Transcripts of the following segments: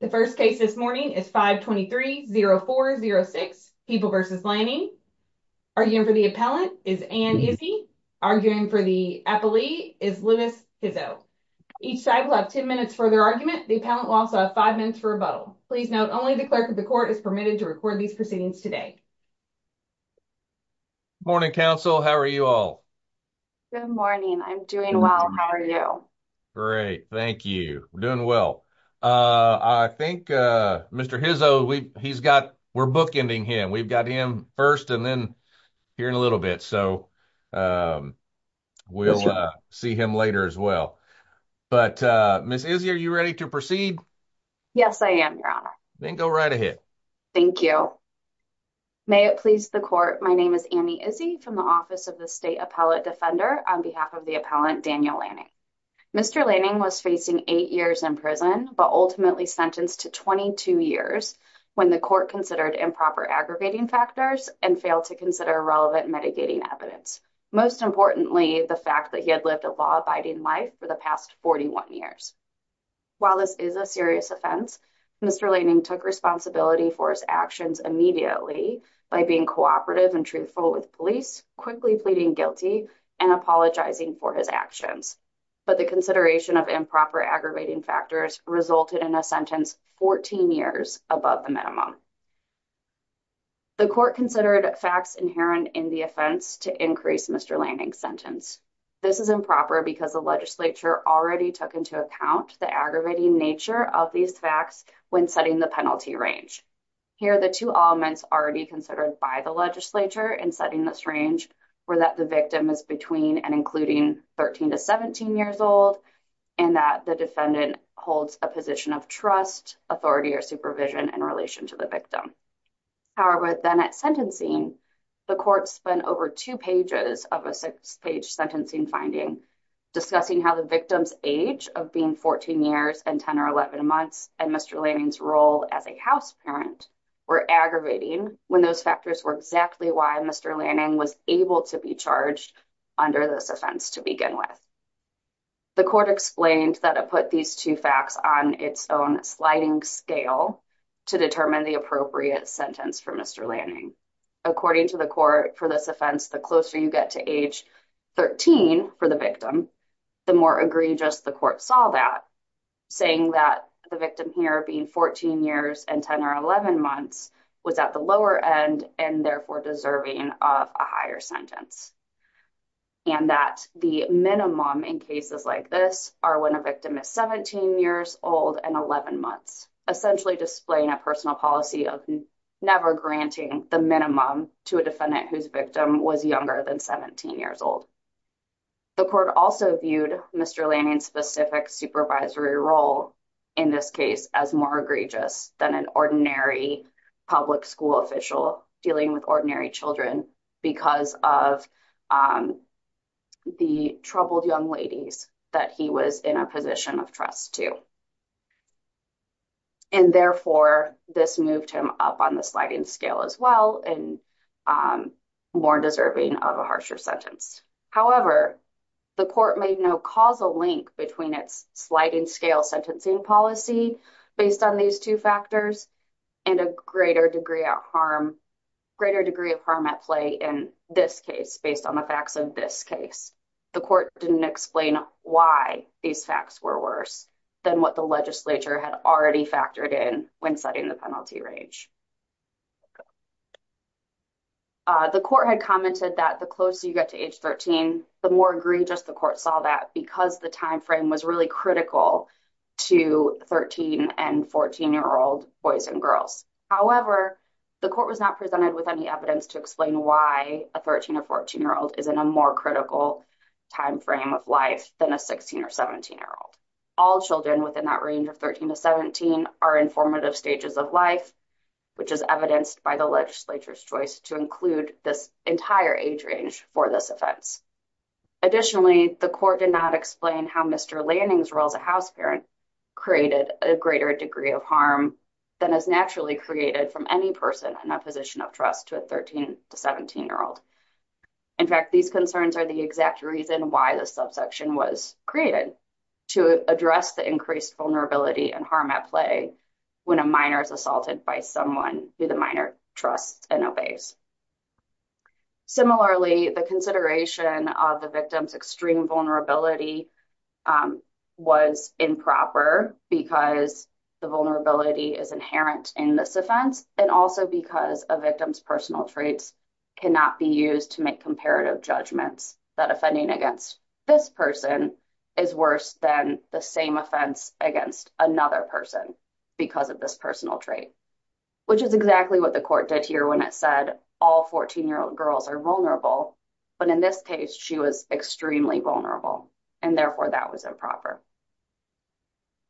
The first case this morning is 523-0406, People v. Lanning. Arguing for the appellant is Ann Izzi. Arguing for the appellee is Linus Hizzo. Each side will have 10 minutes for their argument. The appellant will also have 5 minutes for rebuttal. Please note, only the clerk of the court is permitted to record these proceedings today. Morning, counsel. How are you all? Good morning. I'm doing well. How are you? Great. Thank you. We're doing well. I think Mr. Hizzo, we're bookending him. We've got him first and then here in a little bit. So we'll see him later as well. But Ms. Izzi, are you ready to proceed? Yes, I am, Your Honor. Then go right ahead. Thank you. May it please the court, my name is Annie Izzi from the Office of the State Appellate Defender on behalf of the appellant, Daniel Lanning. Mr. Lanning was facing 8 years in prison, but ultimately sentenced to 22 years when the court considered improper aggravating factors and failed to consider relevant mitigating evidence. Most importantly, the fact that he had lived a law-abiding life for the past 41 years. While this is a serious offense, Mr. Lanning took responsibility for his actions immediately by being cooperative and truthful with police, quickly pleading guilty, and apologizing for his actions. But the consideration of improper aggravating factors resulted in a sentence 14 years above the minimum. The court considered facts inherent in the offense to increase Mr. Lanning's sentence. This is improper because the legislature already took into account the aggravating nature of these facts when setting the penalty range. Here, the two elements already considered by the legislature in setting this range were that the victim is between and including 13 to 17 years old and that the defendant holds a position of trust, authority, or supervision in relation to the victim. However, then at sentencing, the court spent over two pages of a six-page sentencing finding discussing how the victim's age of being 14 years and 10 or 11 months and Mr. Lanning's role as a house parent were aggravating when those factors were exactly why Mr. Lanning was able to be charged under this offense to begin with. The court explained that it put these two facts on its own sliding scale to determine the appropriate sentence for Mr. Lanning. According to the court, for this offense, the closer you get to age 13 for the victim, the more egregious the court saw that, saying that the victim here being 14 years and 10 or 11 months was at the lower end and therefore deserving of a higher sentence and that the minimum in cases like this are when a victim is 17 years old and 11 months, essentially displaying a personal policy of never granting the minimum to a defendant whose victim was younger than 17 years old. The court also viewed Mr. Lanning's specific supervisory role in this case as more egregious than an ordinary public school official dealing with ordinary children because of the troubled young ladies that he was in a position of trust to. And therefore, this moved him up on the sliding scale as well and more deserving of a harsher sentence. However, the court made no causal link between its sliding scale sentencing policy based on these two factors and a greater degree of harm at play in this case based on the facts of this case. The court didn't explain why these facts were worse than what the legislature had already factored in when setting the penalty range. The court had commented that the closer you get to age 13, the more egregious the court saw that because the time frame was really critical to 13 and 14 year old boys and girls. However, the court was not presented with any evidence to explain why a 13 or 14 year old is in a more critical time frame of life than a 16 or 17 year old. All children within that range of 13 to 17 are in formative stages of life, which is evidenced by the legislature's choice to include this entire age range for this offense. Additionally, the court did not explain how Mr. Lanning's role as a house parent created a greater degree of harm than is naturally created from any person in a position of trust to a 13 to 17 year old. In fact, these concerns are the exact reason why the subsection was created to address the increased vulnerability and harm at play when a minor is assaulted by someone who the minor trusts and obeys. Similarly, the consideration of the victim's extreme vulnerability was improper because the vulnerability is inherent in this offense and also because victims' personal traits cannot be used to make comparative judgments that offending against this person is worse than the same offense against another person because of this personal trait, which is exactly what the court did here when it said all 14 year old girls are vulnerable, but in this case she was extremely vulnerable and therefore that was improper.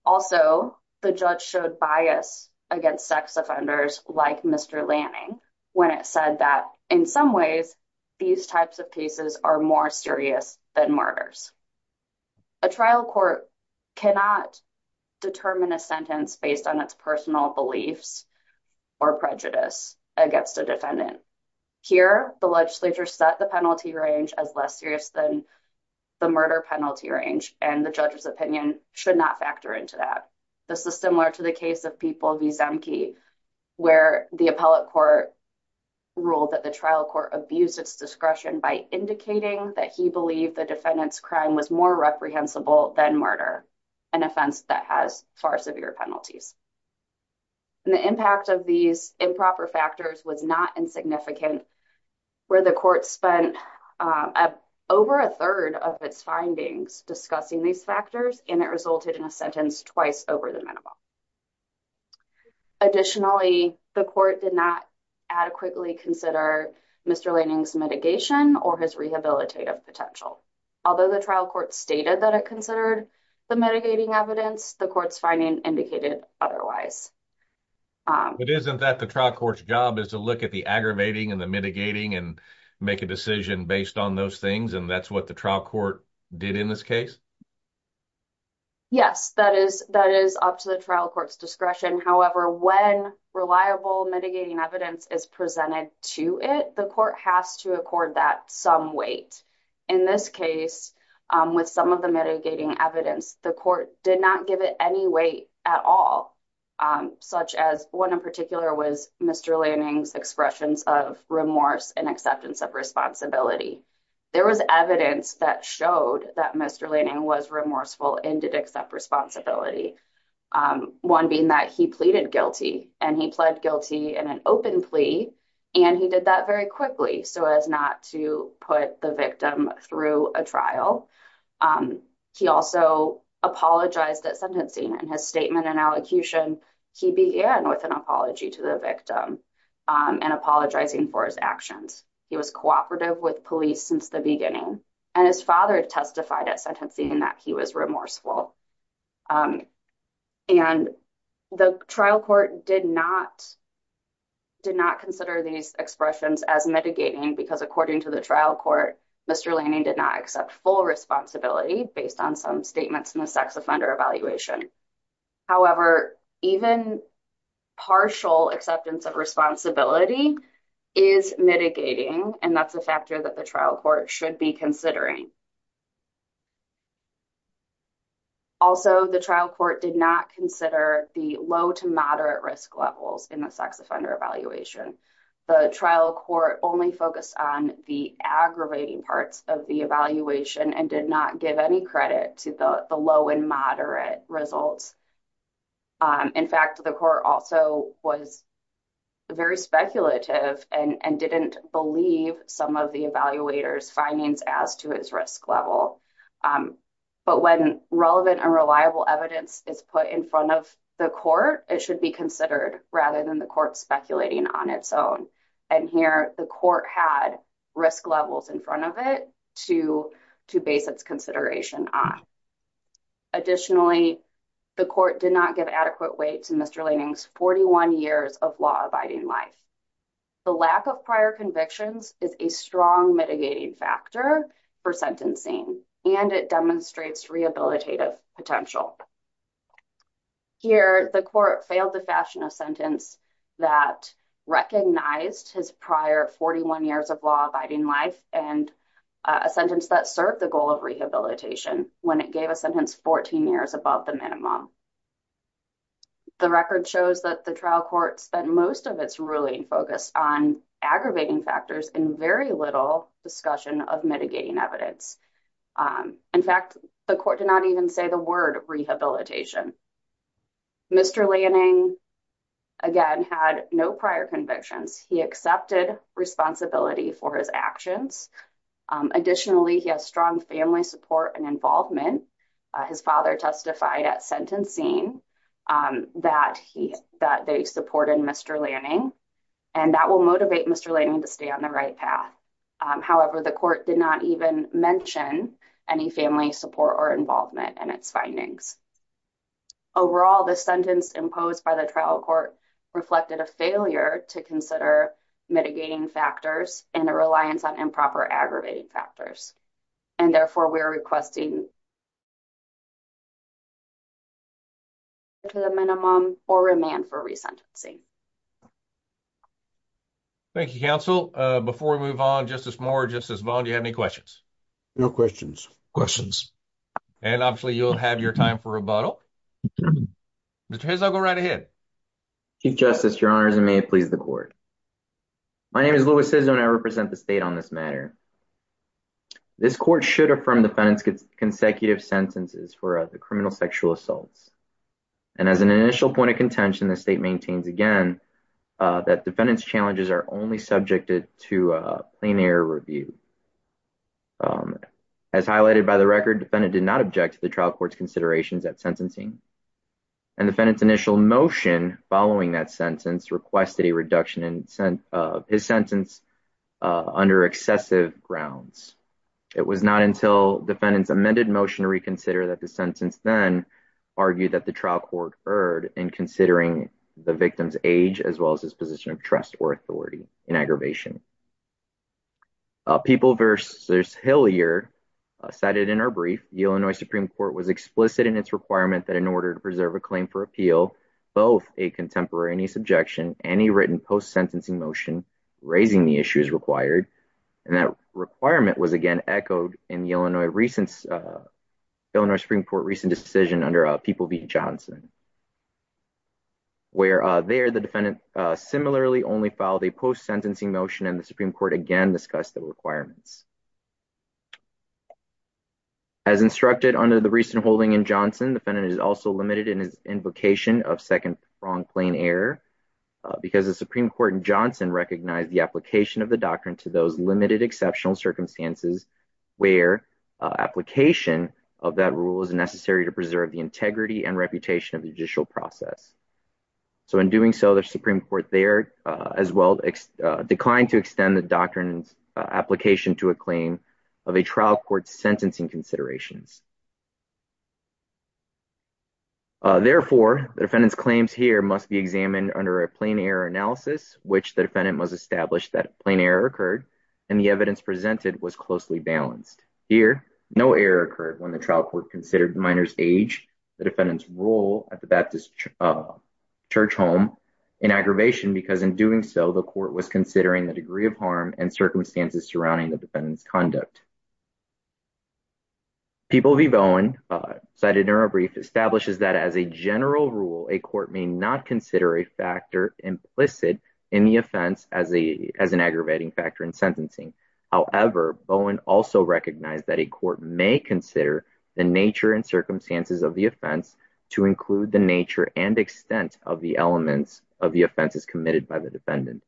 Also, the judge showed bias against sex offenders like Mr. Lanning when it said that in some ways these types of cases are more serious than murders. A trial court cannot determine a sentence based on its personal beliefs or prejudice against a defendant. Here, the legislature set the penalty range as less serious than the murder penalty range and the judge's opinion should not factor into that. This is similar to the case of People v. Zemke where the appellate court ruled that the trial court abused its discretion by indicating that he believed the defendant's crime was more reprehensible than murder, an offense that has far severe penalties. And the impact of these improper factors was not insignificant where the court spent over a third of its findings discussing these factors and it resulted in a sentence twice over the minimum. Additionally, the court did not adequately consider Mr. Lanning's mitigation or his rehabilitative potential. Although the trial court stated that it considered the mitigating evidence, the court's finding indicated otherwise. It isn't that the trial court's job is to look at the aggravating and the mitigating and make a decision based on those things and that's what the trial court did in this case? Yes, that is up to the trial court's discretion. However, when reliable mitigating evidence is presented to it, the court has to accord that some weight. In this case, with some of the mitigating evidence, the court did not give it any weight at all, such as one in particular was Mr. Lanning's expressions of remorse and acceptance of responsibility. There was evidence that showed that Mr. Lanning was remorseful and did accept responsibility. One being that he pleaded guilty and he pled guilty in an open plea and he did that very quickly so as not to put the victim through a trial. He also apologized at sentencing and his statement and allocution, he began with an apology to the victim and apologizing for his actions. He was cooperative with police since the beginning and his father testified at sentencing that he was remorseful. And the trial court did not consider these expressions as mitigating because according to the trial court, Mr. Lanning did not accept full responsibility based on some statements in the sex offender evaluation. However, even partial acceptance of responsibility is mitigating and that's a factor that the trial court should be considering. Also, the trial court did not consider the low to moderate risk levels in the sex offender evaluation. The trial court only focused on the aggravating parts of the evaluation and did not give any credit to the low and moderate results. In fact, the court also was very speculative and didn't believe some of the evaluator's findings as to his risk level. But when relevant and reliable evidence is put in front of the court, it should be considered rather than the court speculating on its own. And here, the court had risk levels in front of it to base its consideration on. Additionally, the court did not give adequate weight to Mr. Lanning's 41 years of law-abiding life. The lack of prior convictions is a strong mitigating factor for sentencing and it demonstrates rehabilitative potential. Here, the court failed to fashion a sentence that recognized his prior 41 years of law-abiding life and a sentence that served the goal of rehabilitation when it gave a sentence 14 years above the minimum. The record shows that the trial court spent most of its ruling focused on aggravating factors in very little discussion of mitigating evidence. In fact, the court did not even say the word rehabilitation. Mr. Lanning, again, had no prior convictions. He accepted responsibility for his actions. Additionally, he has strong family support and involvement. His father testified at sentencing that they supported Mr. Lanning and that will motivate Mr. Lanning to stay on the right path. However, the court did not even mention any family support or involvement in its findings. Overall, the sentence imposed by the trial court reflected a failure to consider mitigating factors and a reliance on improper aggravating factors and therefore we're requesting to the minimum or remand for resentencing. Thank you, counsel. Before we move on, Justice Moore, Justice Vaughn, do you have any questions? No questions. Questions? And obviously you'll have your time for rebuttal. Mr. Hizzo, go right ahead. Chief Justice, your honors, and may it please the court. My name is Louis Hizzo and I represent the state on this matter. This court should affirm defendant's consecutive sentences for the criminal sexual assaults and as an initial point of contention, the state maintains again that defendant's challenges are only subjected to a plain error review. As highlighted by the record, defendant did not object to the trial court's considerations at sentencing and defendant's initial motion following that sentence requested a reduction in his sentence under excessive grounds. It was not until defendant's amended motion to reconsider that the as well as his position of trust or authority in aggravation. People versus Hillier cited in our brief, the Illinois Supreme Court was explicit in its requirement that in order to preserve a claim for appeal, both a contemporaneous objection and a written post-sentencing motion raising the issues required and that requirement was again echoed in the Illinois Supreme Court recent decision under People v. Johnson, where there the defendant similarly only filed a post-sentencing motion and the Supreme Court again discussed the requirements. As instructed under the recent holding in Johnson, defendant is also limited in his invocation of second wrong plain error because the Supreme Court in Johnson recognized the application of the doctrine to those limited exceptional circumstances where application of that rule is necessary to preserve the integrity and reputation of the judicial process. So in doing so, the Supreme Court there as well declined to extend the doctrine's application to a claim of a trial court's sentencing considerations. Therefore, the defendant's claims here must be examined under a plain error analysis which the defendant was established that plain error occurred and the evidence presented was closely balanced. Here, no error occurred when the trial court considered minor's age, the defendant's role at the Baptist church home in aggravation because in doing so, the court was considering the degree of harm and circumstances surrounding the defendant's conduct. People v. Bowen cited in our brief establishes that as a general rule, a court may not consider a factor implicit in the offense as an aggravating factor in sentencing. However, Bowen also recognized that a court may consider the nature and circumstances of the offense to include the nature and extent of the elements of the offenses committed by the defendant.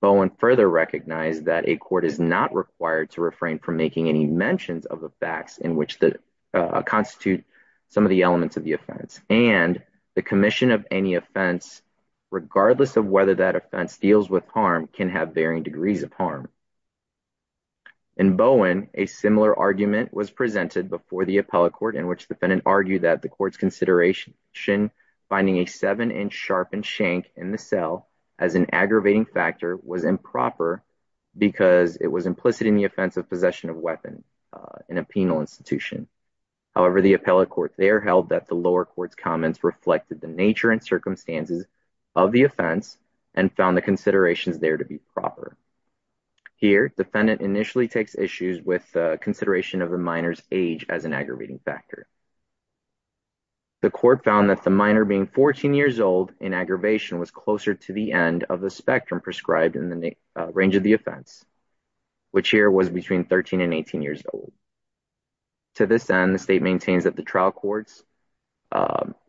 Bowen further recognized that a court is not required to refrain from making any mentions of the facts in which that constitute some of the elements of the offense and the commission of any offense regardless of whether that offense deals with harm can have varying degrees of harm. In Bowen, a similar argument was presented before the appellate court in which the defendant argued that the court's consideration finding a seven inch sharpened shank in the cell as an aggravating factor was improper because it was implicit in the offense of possession of weapon in a penal institution. However, the appellate court there held that the lower court's comments reflected the nature and circumstances of the offense and found the considerations there to be proper. Here, defendant initially takes issues with consideration of the minor's age as an aggravating factor. The court found that the minor being 14 years old in aggravation was closer to the end of the spectrum prescribed in the range of the offense, which here was between 13 and 18 years old. To this end, the state maintains that the trial court's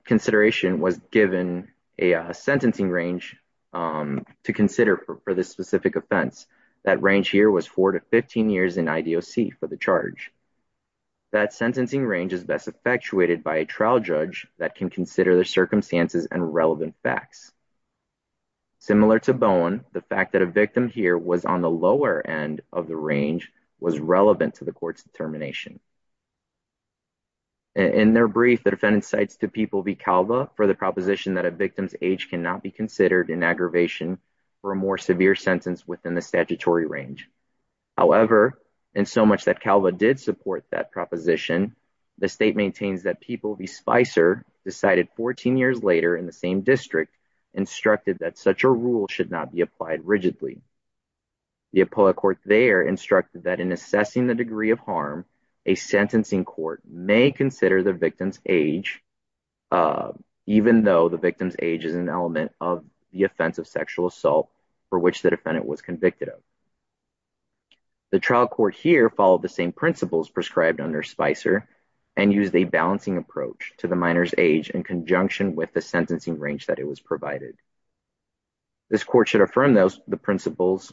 consideration was given a sentencing range to consider for this specific offense. That range here was four to 15 years in IDOC for the charge. That sentencing range is best effectuated by a trial judge that can consider the circumstances and relevant facts. Similar to Bowen, the fact that a victim here was on the lower end of the range was relevant to the court's determination. In their brief, the defendant cites to People v. Calva for the proposition that a victim's age cannot be considered in aggravation for a more severe sentence within the statutory range. However, in so much that Calva did support that proposition, the state maintains that People v. Spicer decided 14 years later in the same district instructed that such a rule should not be applied rigidly. The appellate court there instructed that in assessing the degree of harm, a sentencing court may consider the victim's age, even though the victim's age is an element of the offense of sexual assault for which the defendant was convicted of. The trial court here followed the same principles prescribed under Spicer and used a balancing approach to the minor's age in conjunction with the sentencing range that it was provided. This court should affirm those the principles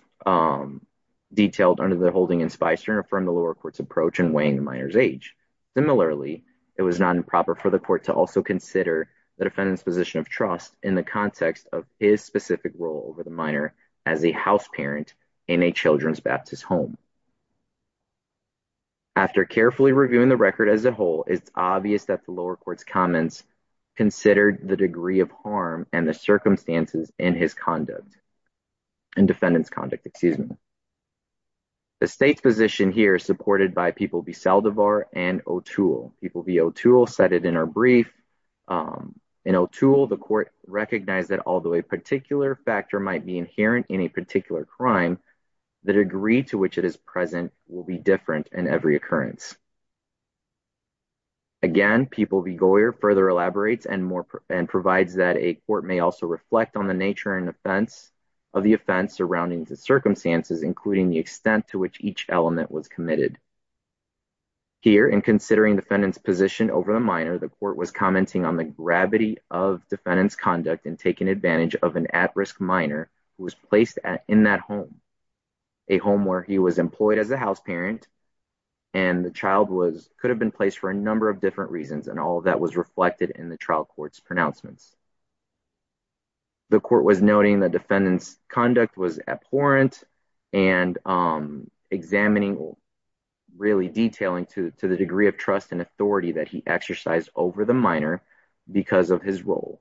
detailed under the holding in Spicer and affirm the lower court's approach in weighing the minor's age. Similarly, it was not improper for the court to also consider the defendant's position of trust in the context of his specific role over the minor as a house parent in a children's Baptist home. After carefully reviewing the record as a whole, it's obvious that the lower court's comments considered the degree of harm and the circumstances in his conduct, in defendant's conduct, excuse me. The state's position here is supported by People v. Saldivar and O'Toole. People v. O'Toole cited in our brief. In O'Toole, the court recognized that although a particular factor might be inherent in a particular crime, the degree to which it is present will be different in every occurrence. Again, People v. Goyer further elaborates and more and provides that a court may also reflect on the nature and defense of the offense surrounding the circumstances, including the extent to which each element was committed. Here, in considering defendant's position over the minor, the court was commenting on the gravity of defendant's conduct and taking advantage of an at-risk minor who was placed in that home. A home where he was employed as a house parent and the child could have been placed for a number of different reasons and all of that was reflected in the trial court's pronouncements. The court was noting the defendant's conduct was abhorrent and examining, really detailing to the degree of trust and authority that he exercised over the minor because of his role.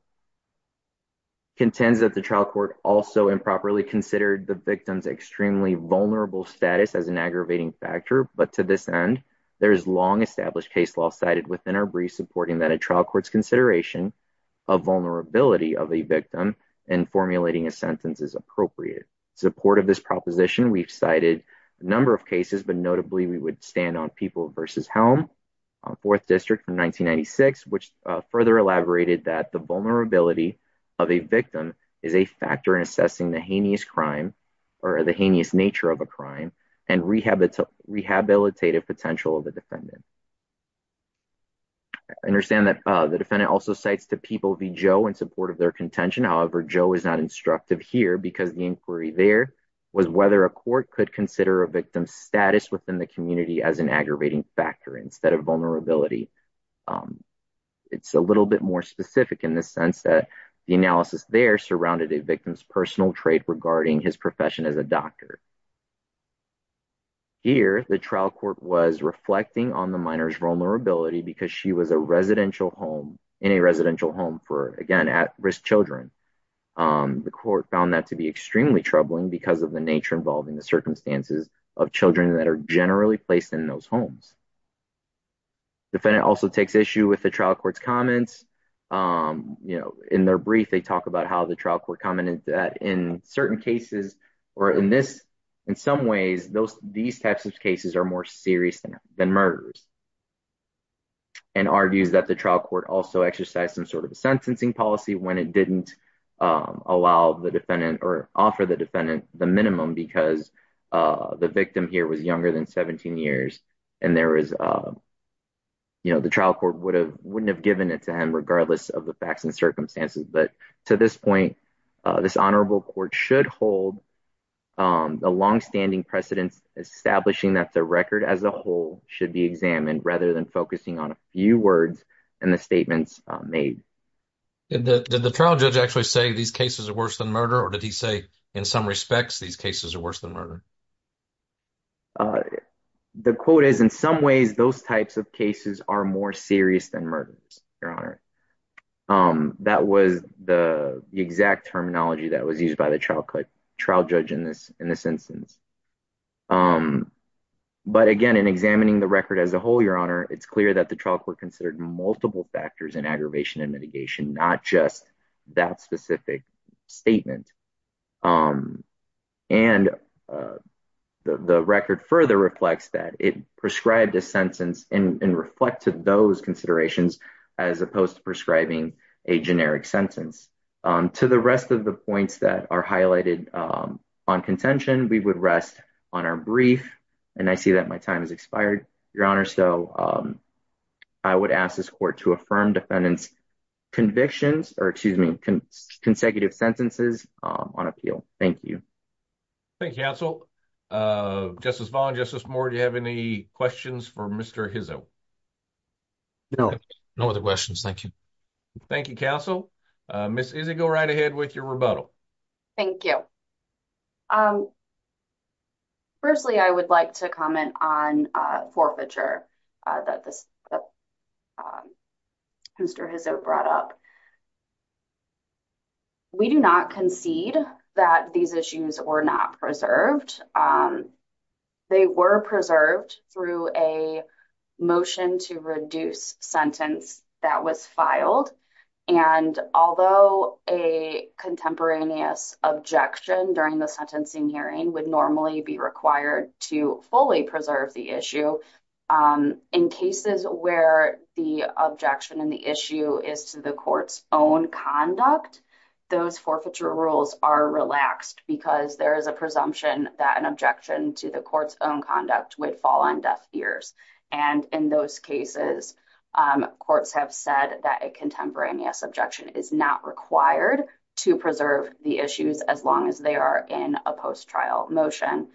Contends that the trial court also improperly considered the victim's extremely vulnerable status as an aggravating factor, but to this end, there is long-established case law cited within our brief supporting that a trial court's consideration of vulnerability of a victim in formulating a sentence is appropriate. In support of this proposition, we've cited a number of cases, but notably we would stand on People v. Helm, 4th District from 1996, which further elaborated that the vulnerability of a victim is a factor in assessing the heinous crime or the heinous nature of a crime and rehabilitative potential of the defendant. I understand that the defendant also cites the People v. Joe in support of their contention. However, Joe is not instructive here because the inquiry there was whether a court could consider a victim's status within the community as an aggravating factor instead of vulnerability. It's a little bit more specific in the sense that the analysis there surrounded a victim's personal trait regarding his profession as a doctor. Here, the trial court was reflecting on the minor's vulnerability because she was a residential home, in a residential home for, again, at-risk children. The court found that to be extremely troubling because of the nature involving the circumstances of children that are generally placed in those homes. The defendant also takes issue with the trial court's comments. In their brief, they talk about how the trial court commented that in certain cases, or in some ways, these types of cases are more serious than murderers, and argues that the trial court also exercised some sort of the minimum because the victim here was younger than 17 years, and there was, you know, the trial court wouldn't have given it to him regardless of the facts and circumstances. But to this point, this honorable court should hold a long-standing precedence establishing that the record as a whole should be examined rather than focusing on a few words and the statements made. Did the trial judge actually say these cases are worse than murder, or did he say in some respects these cases are worse than murder? The quote is, in some ways, those types of cases are more serious than murders, Your Honor. That was the exact terminology that was used by the trial judge in this instance. But again, in examining the record as a whole, Your Honor, it's clear that the trial court considered multiple factors in aggravation and mitigation, not just that specific statement. And the record further reflects that. It prescribed a sentence and reflected those considerations as opposed to prescribing a generic sentence. To the rest of the points that are highlighted on contention, we would rest on our brief. And I see that my time has expired, Your Honor. I would ask this court to affirm defendant's convictions or, excuse me, consecutive sentences on appeal. Thank you. Thank you, counsel. Justice Vaughn, Justice Moore, do you have any questions for Mr. Hizzo? No. No other questions. Thank you. Thank you, counsel. Ms. Izzy, go right ahead with your rebuttal. Thank you. Firstly, I would like to comment on forfeiture that Mr. Hizzo brought up. We do not concede that these issues were not preserved. They were preserved through a motion to reduce sentence that was filed. And although a contemporaneous objection during the sentencing hearing would normally be required to fully preserve the issue, in cases where the objection in the issue is to the court's own conduct, those forfeiture rules are relaxed because there is a presumption that an objection to the court's own conduct would fall on deaf ears. And in those cases, courts have said that a contemporaneous objection is not required to preserve the issues as long as they are in a post-trial motion.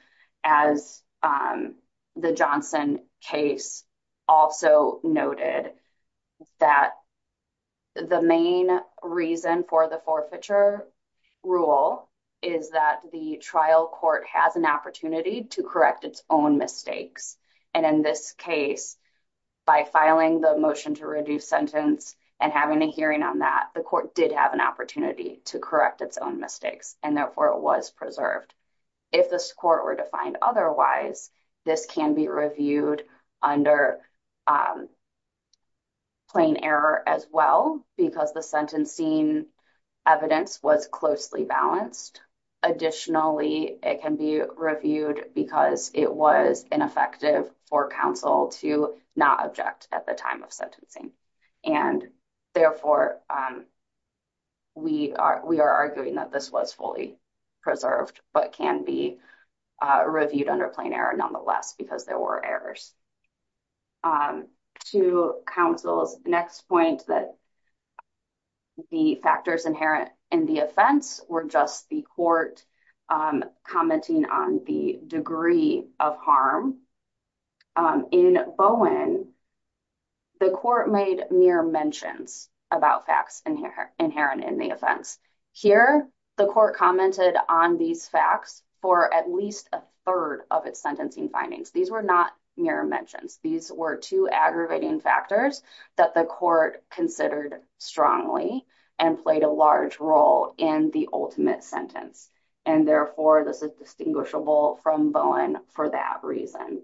As the Johnson case also noted that the main reason for the forfeiture rule is that the trial court has an opportunity to correct its own mistakes. And in this case, by filing the motion to reduce sentence and having a hearing on that, the court did have an opportunity to correct its own mistakes. And therefore, it was preserved. If the score were defined otherwise, this can be reviewed under plain error as well because the sentencing evidence was closely balanced. Additionally, it can be reviewed because it was ineffective for counsel to not object at the time of sentencing. And therefore, we are arguing that this was fully preserved but can be reviewed under plain error nonetheless because there were errors. To counsel's next point that the factors inherent in the offense were just the court commenting on the degree of harm. In Bowen, the court made mere mentions about facts inherent in the offense. Here, the court commented on these facts for at least a third of its sentencing findings. These were not mere mentions. These were two aggravating factors that the court considered strongly and played a large role in the ultimate sentence. And therefore, this is distinguishable from Bowen for that reason.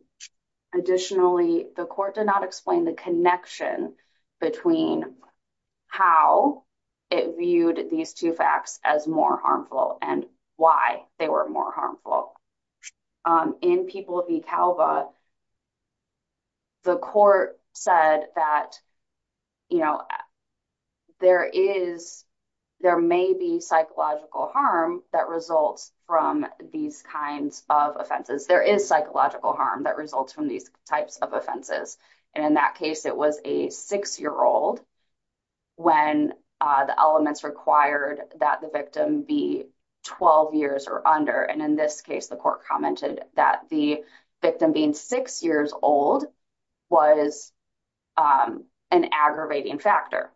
Additionally, the court did not explain the connection between how it viewed these two as more harmful and why they were more harmful. In People v. Calva, the court said that, you know, there is, there may be psychological harm that results from these kinds of offenses. There is psychological harm that results from these types of offenses. And in that case, it was a six-year-old when the elements required that the victim be 12 years or under. And in this case, the court commented that the victim being six years old was an aggravating factor.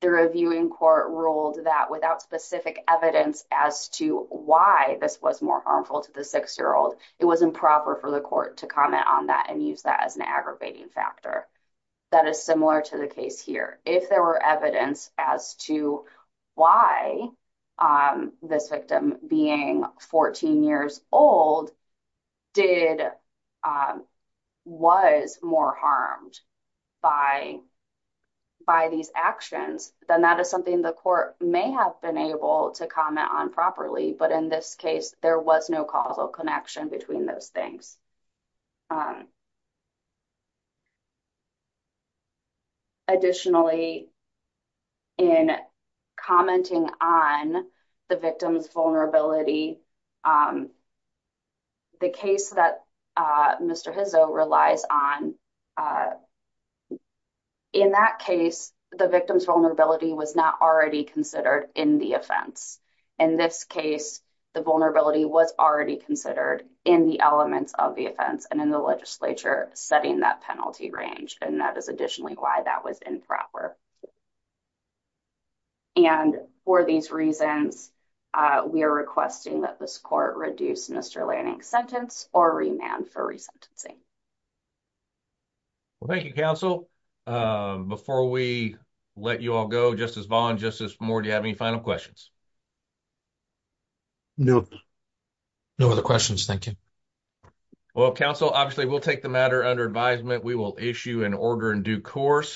The reviewing court ruled that without specific evidence as to why this was more harmful to the six-year-old, it was improper for the court to comment on that and use that as an aggravating factor. That is similar to the case here. If there were evidence as to why this victim being 14 years old did, was more harmed by these actions, then that is something the court may have been able to comment on properly. But in this case, there was no causal connection between those things. Additionally, in commenting on the victim's vulnerability, the case that Mr. Hizzo relies on, in that case, the victim's vulnerability was not already considered in the offense. In this case, the vulnerability was already considered in the elements of the offense and in the legislature setting that penalty range. And that is additionally why that was improper. And for these reasons, we are requesting that this court reduce Mr. Lanning's sentence or remand for resentencing. Well, thank you, counsel. Before we let you all go, Justice Vaughn, Justice Moore, do you have any final questions? No. No other questions. Thank you. Well, counsel, obviously, we'll take the matter under advisement. We will issue an order in due course.